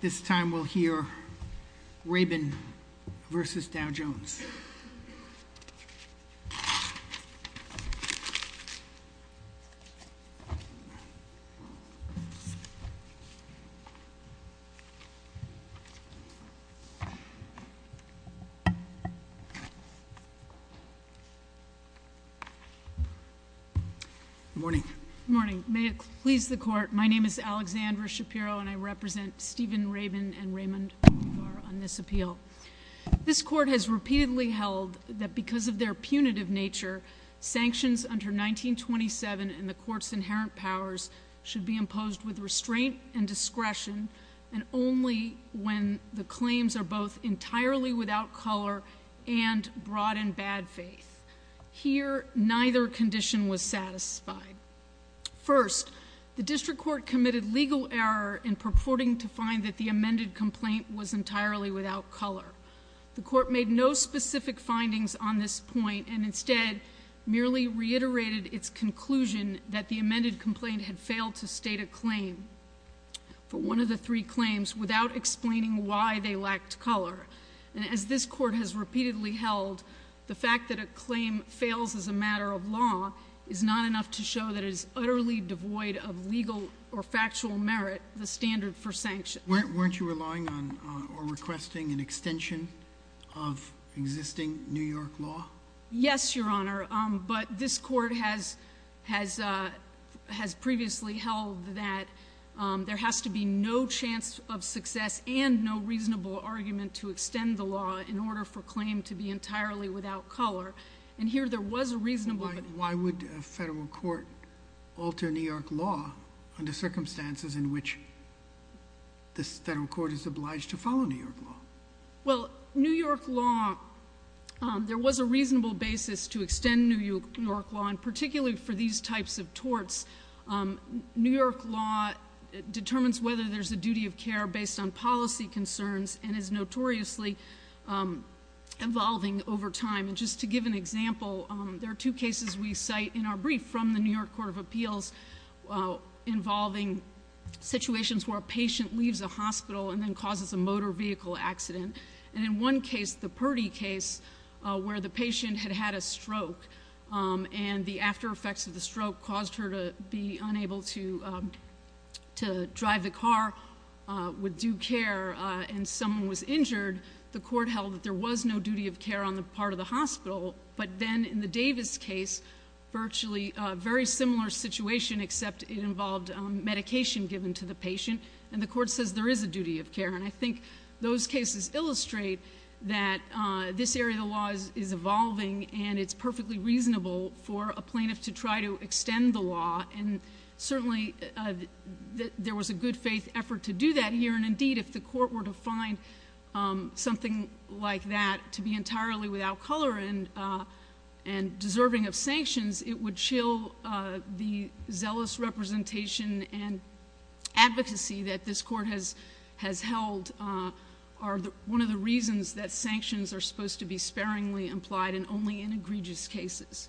This time we'll hear Rabin v. Dow Jones. Good morning. Good morning. May it please the Court, my name is Alexandra Shapiro, and I represent Stephen Rabin and Raymond Bacowar on this appeal. This Court has repeatedly held that because of their punitive nature, sanctions under 1927 and the Court's inherent powers should be imposed with restraint and discretion and only when the claims are both entirely without color and brought in bad faith. Here, neither condition was satisfied. First, the District Court committed legal error in purporting to find that the amended complaint was entirely without color. The Court made no specific findings on this point and instead merely reiterated its conclusion that the amended complaint had failed to state a claim for one of the three claims without explaining why they lacked color. As this Court has repeatedly held, the fact that a claim fails as a matter of law is not enough to show that it is utterly devoid of legal or factual merit, the standard for sanction. Weren't you relying on or requesting an extension of existing New York law? Yes, Your Honor, but this Court has previously held that there has to be no chance of success and no reasonable argument to extend the law in order for claim to be entirely without color and here there was a reasonable... Why would a federal court alter New York law under circumstances in which this federal court is obliged to follow New York law? Well, New York law, there was a reasonable basis to extend New York law and particularly for these types of torts. New York law determines whether there's a duty of care based on policy concerns and is notoriously evolving over time. Just to give an example, there are two cases we cite in our brief from the New York Court of Appeals involving situations where a patient leaves a hospital and then causes a motor vehicle accident and in one case, the Purdy case, where the patient had had a stroke and the after effects of the stroke caused her to be unable to drive the car with due care and someone was injured, the court held that there was no duty of care on the part of the hospital but then in the Davis case, virtually a very similar situation except it involved medication given to the patient and the court says there is a duty of care and I think those cases illustrate that this area of the law is evolving and it's perfectly reasonable for a plaintiff to try to extend the law and certainly, there was a good faith effort to do that here and indeed, if the court were to find something like that to be entirely without color and deserving of sanctions, it would chill the zealous representation and advocacy that this court has held are one of the reasons that sanctions are supposed to be sparingly implied and only in egregious cases.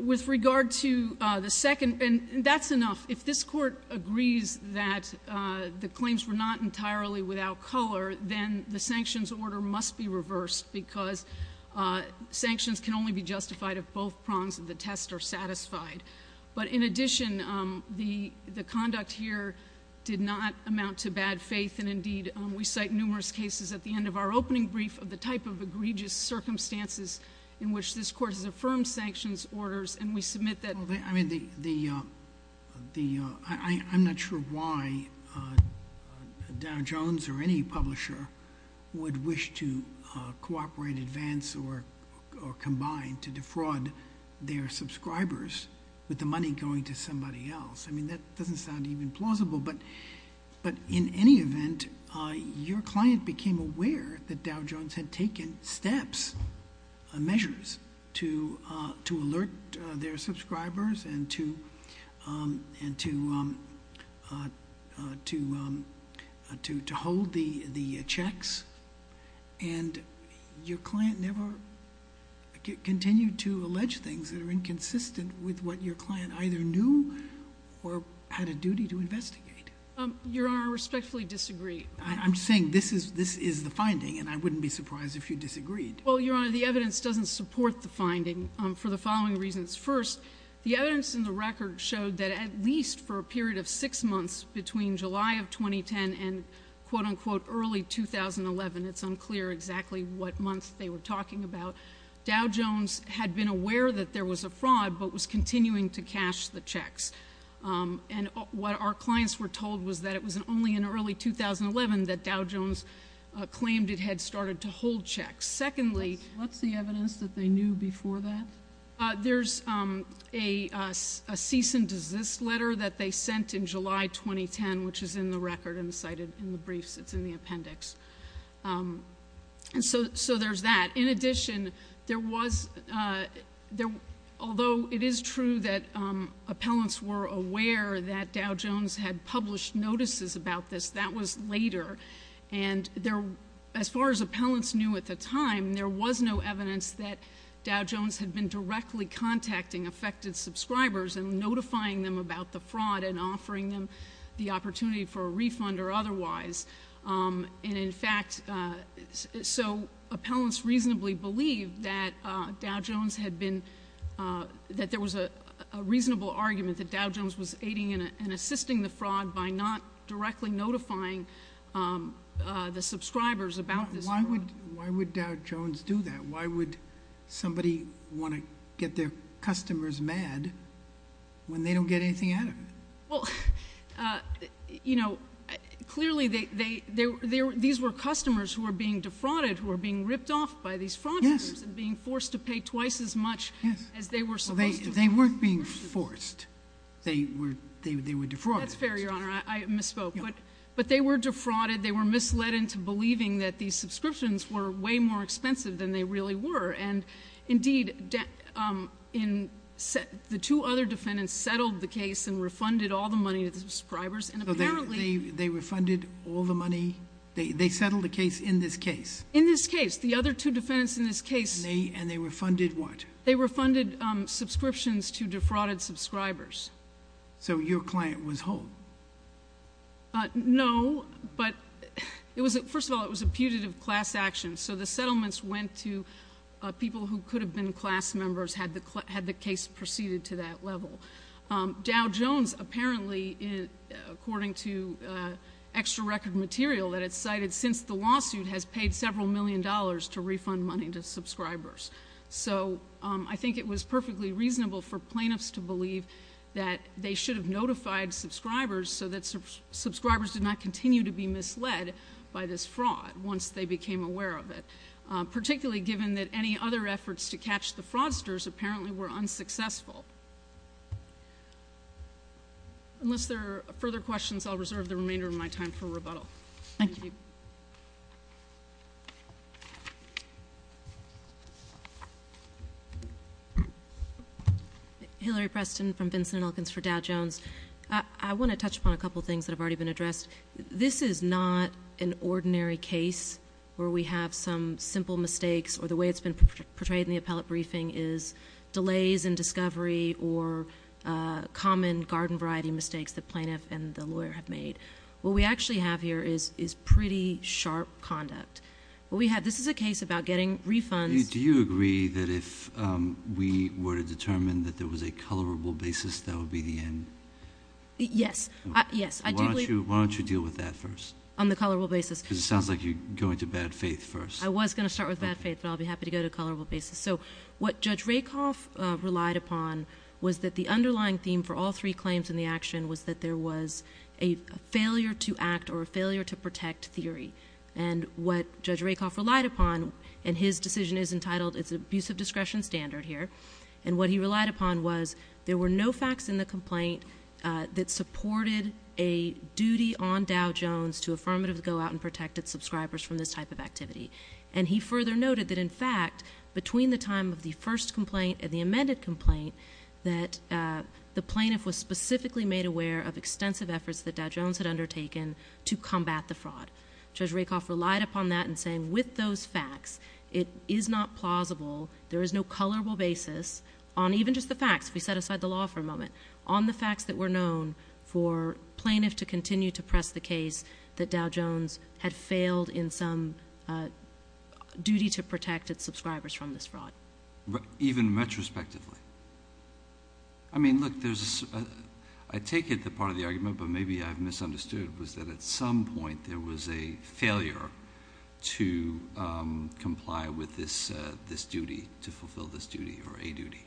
With regard to the second, and that's enough, if this court agrees that the claims were not entirely without color, then the sanctions order must be reversed because sanctions can only be justified if both prongs of the test are satisfied. But in addition, the conduct here did not amount to bad faith and indeed, we cite numerous cases at the end of our opening brief of the type of egregious circumstances in which this court has affirmed sanctions orders and we submit that... Well, I mean, the... I'm not sure why Dow Jones or any publisher would wish to cooperate in advance or combine to defraud their subscribers with the money going to somebody else. I mean, that doesn't sound even plausible, but in any event, your client became aware that Dow Jones had taken steps, measures to alert their subscribers and to hold the checks and your client never continued to allege things that are inconsistent with what your client either knew or had a duty to investigate. Your Honor, I respectfully disagree. I'm saying this is the finding and I wouldn't be surprised if you disagreed. Well, Your Honor, the evidence doesn't support the finding for the following reasons. First, the evidence in the record showed that at least for a period of six months between July of 2010 and, quote, unquote, early 2011, it's unclear exactly what month they were talking about, Dow Jones had been aware that there was a fraud but was continuing to cash the checks. And what our clients were told was that it was only in early 2011 that Dow Jones claimed it had started to hold checks. Secondly... What's the evidence that they knew before that? There's a cease and desist letter that they sent in July 2010, which is in the record and cited in the briefs. It's in the appendix. So there's that. In addition, there was... although it is true that appellants were aware that Dow Jones had published notices about this, that was later. And as far as appellants knew at the time, there was no evidence that Dow Jones was directly contacting affected subscribers and notifying them about the fraud and offering them the opportunity for a refund or otherwise. And in fact... so appellants reasonably believed that Dow Jones had been... that there was a reasonable argument that Dow Jones was aiding and assisting the fraud by not directly notifying the subscribers about this fraud. Why would Dow Jones do that? Why would somebody want to get their customers mad when they don't get anything out of it? Well, you know, clearly these were customers who were being defrauded, who were being ripped off by these fraudsters and being forced to pay twice as much as they were supposed to. They weren't being forced. They were defrauded. That's fair, Your Honor. I misspoke. But they were defrauded. They were misled into believing that these subscriptions were way more expensive than they really were. And indeed, the two other defendants settled the case and refunded all the money to the subscribers. And apparently... So they refunded all the money... they settled the case in this case? In this case. The other two defendants in this case... And they refunded what? They refunded subscriptions to defrauded subscribers. So your client was holed? No, but it was... first of all, it was a putative class action. So the settlements went to people who could have been class members had the case proceeded to that level. Dow Jones apparently, according to extra record material that it's cited, since the lawsuit has paid several million dollars to refund money to subscribers. So, I think it was perfectly reasonable for plaintiffs to believe that they should have notified subscribers so that subscribers did not continue to be misled by this fraud once they became aware of it. Particularly given that any other efforts to catch the fraudsters apparently were unsuccessful. Unless there are further questions, I'll reserve the remainder of my time for rebuttal. Thank you. Hillary Preston from Vincent and Elkins for Dow Jones. I want to touch upon a couple of things that have already been addressed. This is not an ordinary case where we have some simple mistakes or the way it's been portrayed in the appellate briefing is delays in discovery or common garden variety mistakes the plaintiff and the lawyer have made. What we actually have here is pretty sharp conduct. Do you agree that if we were to determine that there was a colorable basis, that would be the end? Yes. Why don't you deal with that first? On the colorable basis. Because it sounds like you're going to bad faith first. I was going to start with bad faith, but I'll be happy to go to colorable basis. So, what Judge Rakoff relied upon was that the underlying theme for all three claims in the action was that there was a failure to act or a failure to protect theory. And what Judge Rakoff relied upon, and his decision is entitled, it's an abuse of discretion standard here. And what he relied upon was there were no facts in the complaint that supported a duty on Dow Jones to affirmatively go out and protect its subscribers from this type of activity. And he further noted that, in fact, between the time of the first complaint and the amended complaint, that the plaintiff was specifically made aware of extensive efforts that Dow Jones had undertaken to combat the fraud. Judge Rakoff relied upon that in saying, with those facts, it is not plausible, there is no colorable basis, on even just the facts, we set aside the law for a moment, on the facts that were known for plaintiff to continue to press the case that Dow Jones had failed in some duty to protect its subscribers from this fraud. Even retrospectively? I mean, look, I take it the part of the argument, but maybe I've misunderstood, was that at some point there was a failure to comply with this duty, to fulfill this duty, or a duty.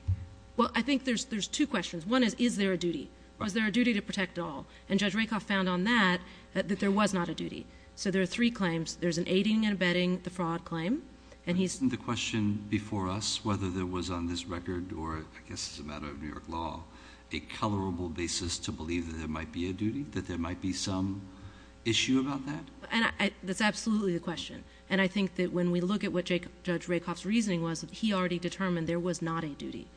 Well, I think there's two questions. One is, is there a duty? Was there a duty to protect all? And Judge Rakoff found on that that there was not a duty. So there are three claims. There's an aiding and abetting the fraud claim. The question before us, whether there was on this record, or I guess it's a matter of New York law, a colorable basis to believe that there might be a duty, that there might be some issue about that? That's absolutely the question. And I think that when we look at what Judge Rakoff's reasoning was, he already determined there was not a duty.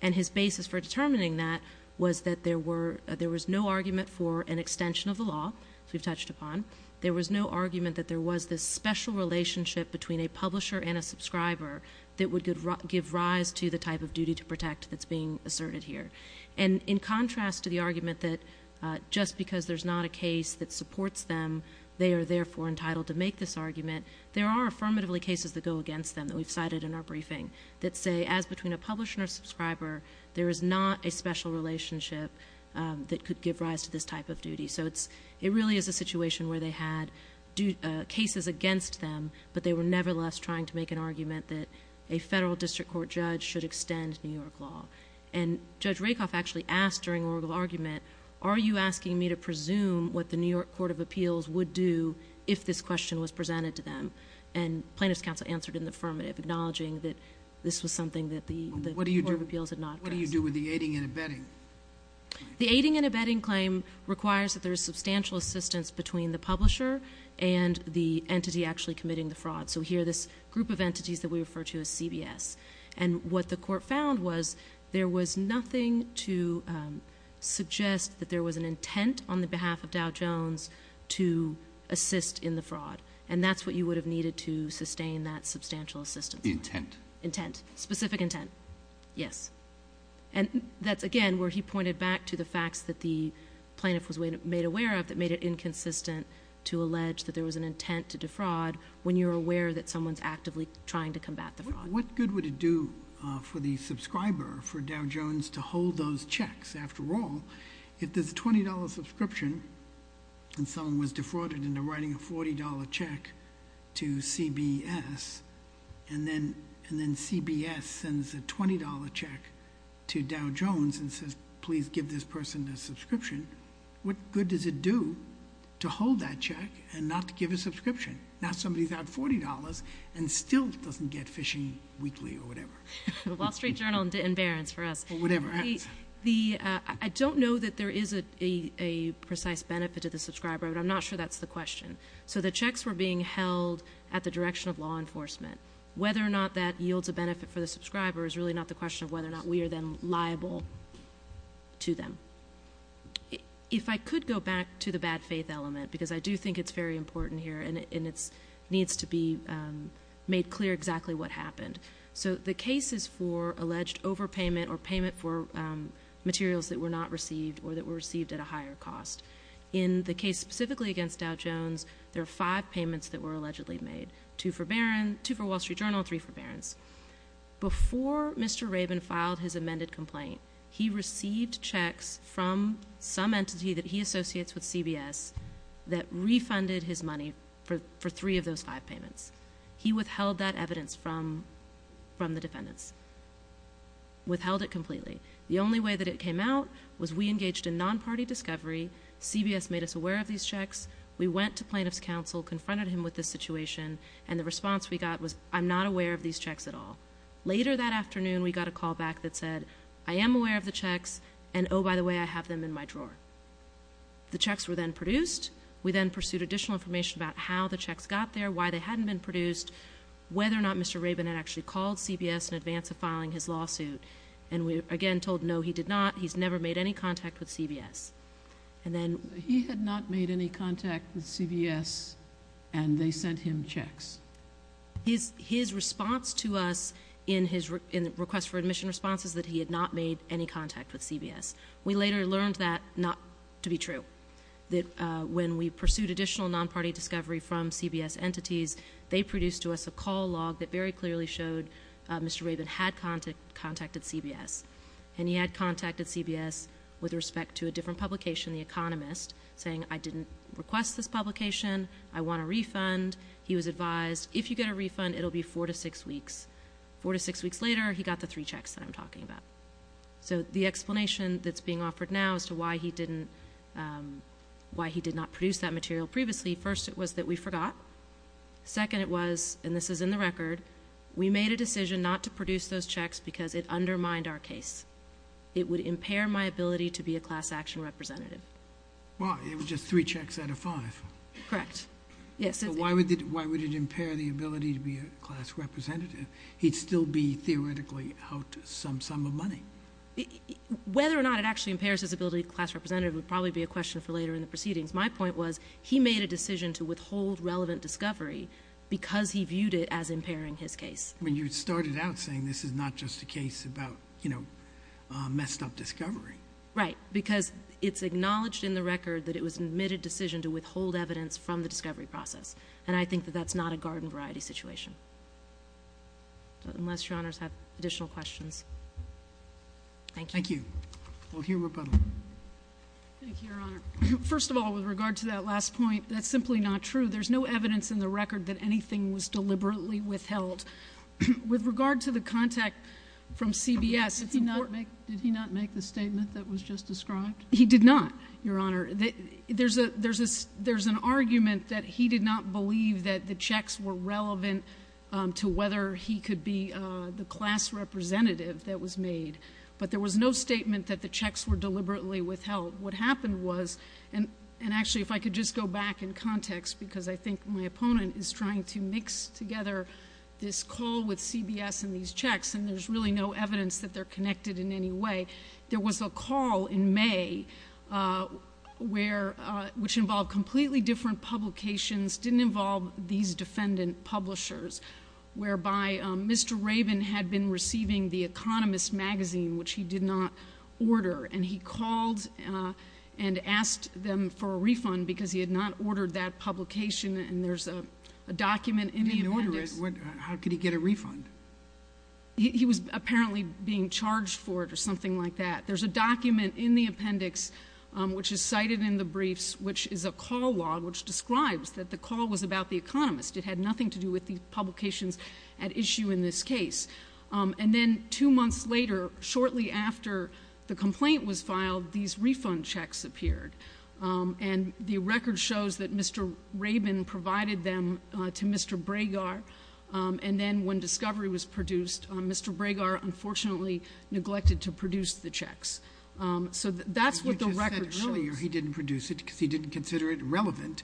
And his basis for determining that was that there was no argument for an extension of the law, as we've touched upon. There was no argument that there was this special relationship between a publisher and a subscriber that would give rise to the type of duty to protect that's being asserted here. And in contrast to the argument that just because there's not a case that supports them, they are therefore entitled to make this argument, there are affirmatively cases that go against them that we've cited in our briefing that say, as between a publisher and a subscriber, there is not a special relationship that could give rise to this type of duty. So it really is a situation where they had cases against them, but they were nevertheless trying to make an argument that a federal district court judge should extend New York law. And Judge Rakoff actually asked during oral argument, are you asking me to presume what the New York Court of Appeals would do if this question was presented to them? And plaintiff's counsel answered in the affirmative, acknowledging that this was something that the Court of Appeals had not addressed. What do you do with the aiding and abetting? The aiding and abetting claim requires that there is substantial assistance between the publisher and the entity actually committing the fraud. So here this group of entities that we refer to as CBS. And what the court found was there was nothing to suggest that there was an intent on the behalf of Dow Jones to assist in the fraud. And that's what you would have needed to sustain that substantial assistance. The intent. Intent. Specific intent. Yes. And that's, again, where he pointed back to the facts that the plaintiff was made aware of that made it inconsistent to allege that there was an intent to defraud when you're aware that someone's actively trying to combat the fraud. What good would it do for the subscriber, for Dow Jones, to hold those checks? After all, if there's a $20 subscription and someone was defrauded into writing a $40 check to CBS, and then CBS sends a $20 check to Dow Jones and says, please give this person a subscription, what good does it do to hold that check and not to give a subscription? Now somebody's out $40 and still doesn't get Phishing Weekly or whatever. The Wall Street Journal and Barron's for us. Whatever. I don't know that there is a precise benefit to the subscriber, but I'm not sure that's the question. So the checks were being held at the direction of law enforcement. Whether or not that yields a benefit for the subscriber is really not the question of whether or not we are then liable to them. If I could go back to the bad faith element, because I do think it's very important here, and it needs to be made clear exactly what happened. So the case is for alleged overpayment or payment for materials that were not received or that were received at a higher cost. In the case specifically against Dow Jones, there are five payments that were allegedly made, two for Wall Street Journal and three for Barron's. Before Mr. Rabin filed his amended complaint, he received checks from some entity that he associates with CBS that refunded his money for three of those five payments. He withheld that evidence from the defendants, withheld it completely. The only way that it came out was we engaged in non-party discovery. CBS made us aware of these checks. We went to plaintiff's counsel, confronted him with this situation, and the response we got was, I'm not aware of these checks at all. Later that afternoon, we got a call back that said, I am aware of the checks, and oh, by the way, I have them in my drawer. The checks were then produced. We then pursued additional information about how the checks got there, why they hadn't been produced, whether or not Mr. Rabin had actually called CBS in advance of filing his lawsuit. And we again told, no, he did not. He's never made any contact with CBS. And then he had not made any contact with CBS, and they sent him checks. His response to us in his request for admission response is that he had not made any contact with CBS. We later learned that not to be true, that when we pursued additional non-party discovery from CBS entities, they produced to us a call log that very clearly showed Mr. Rabin had contacted CBS. And he had contacted CBS with respect to a different publication, The Economist, saying, I didn't request this publication. I want a refund. He was advised, if you get a refund, it will be four to six weeks. Four to six weeks later, he got the three checks that I'm talking about. So the explanation that's being offered now as to why he didn't, why he did not produce that material previously, first, it was that we forgot. Second, it was, and this is in the record, we made a decision not to produce those checks because it undermined our case. It would impair my ability to be a class action representative. Why? It was just three checks out of five. Correct. Yes. Why would it impair the ability to be a class representative? He'd still be theoretically out some sum of money. Whether or not it actually impairs his ability to be a class representative would probably be a question for later in the proceedings. My point was, he made a decision to withhold relevant discovery because he viewed it as impairing his case. I mean, you started out saying this is not just a case about, you know, messed up discovery. Right. Because it's acknowledged in the record that it was an admitted decision to withhold evidence from the discovery process. And I think that that's not a garden variety situation. Unless Your Honors have additional questions. Thank you. Thank you. We'll hear rebuttal. Thank you, Your Honor. First of all, with regard to that last point, that's simply not true. There's no evidence in the record that anything was deliberately withheld. With regard to the contact from CBS, it's important. Did he not make the statement that was just described? He did not, Your Honor. There's an argument that he did not believe that the checks were relevant to whether he could be the class representative that was made. But there was no statement that the checks were deliberately withheld. What happened was, and actually, if I could just go back in context, because I think my opponent is trying to mix together this call with CBS and these checks, and there's really no evidence that they're connected in any way. There was a call in May where, which involved completely different publications, didn't involve these defendant publishers, whereby Mr. Rabin had been receiving The Economist magazine, which he did not order, and he called and asked them for a refund because he had not ordered that publication, and there's a document in the appendix. He didn't order it. How could he get a refund? He was apparently being charged for it or something like that. There's a document in the appendix, which is cited in the briefs, which is a call log, which describes that the call was about The Economist. It had nothing to do with the publications at issue in this case. And then two months later, shortly after the complaint was filed, these refund checks appeared, and the record shows that Mr. Rabin provided them to Mr. Bragar, and then when discovery was produced, Mr. Bragar unfortunately neglected to produce the checks. So that's what the record shows. But you just said earlier he didn't produce it because he didn't consider it relevant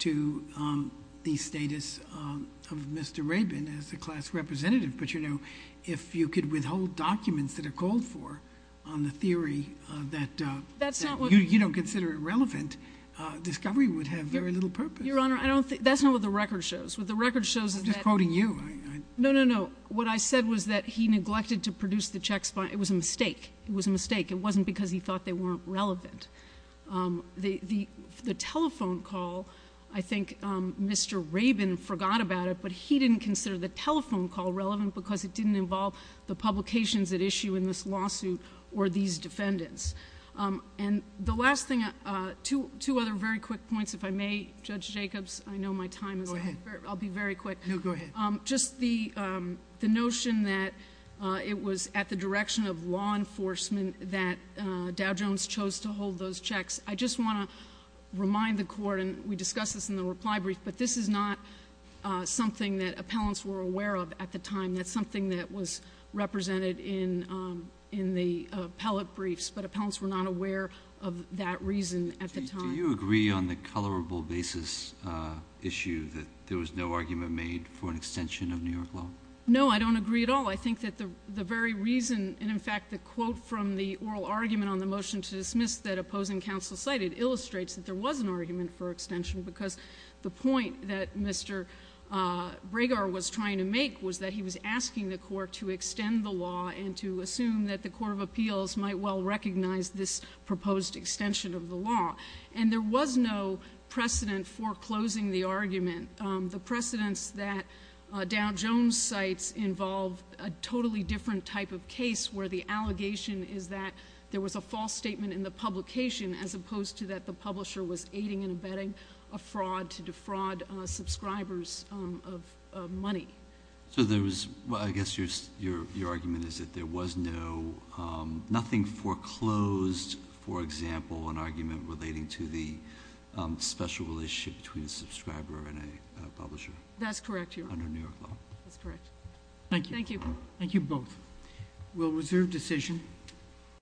to the status of Mr. Rabin as a class representative. But, you know, if you could withhold documents that are called for on the theory that you don't consider it relevant, discovery would have very little purpose. Your Honor, that's not what the record shows. What the record shows is that — I'm just quoting you. No, no, no. What I said was that he neglected to produce the checks. It was a mistake. It was a mistake. It wasn't because he thought they weren't relevant. The telephone call, I think Mr. Rabin forgot about it, but he didn't consider the telephone call relevant because it didn't involve the publications at issue in this lawsuit or these defendants. And the last thing, two other very quick points, if I may, Judge Jacobs. I know my time is up. Go ahead. No, go ahead. Just the notion that it was at the direction of law enforcement that Dow Jones chose to hold those checks. I just want to remind the Court, and we discussed this in the reply brief, but this is not something that appellants were aware of at the time. That's something that was represented in the appellate briefs, but appellants were not aware of that reason at the time. Do you agree on the colorable basis issue that there was no argument made for an extension of New York law? No, I don't agree at all. I think that the very reason, and, in fact, the quote from the oral argument on the motion to dismiss that opposing counsel cited illustrates that there was an argument for extension because the point that Mr. Bragar was trying to make was that he was asking the Court to extend the law and to assume that the Court of Appeals might well recognize this proposed extension of the law. And there was no precedent for closing the argument. The precedents that Dow Jones cites involve a totally different type of case where the allegation is that there was a false statement in the publication as opposed to that the publisher was aiding and abetting a fraud to defraud subscribers of money. So I guess your argument is that there was nothing foreclosed, for example, an argument relating to the special relationship between a subscriber and a publisher? That's correct, Your Honor. Under New York law? That's correct. Thank you. Thank you both. We'll reserve decision.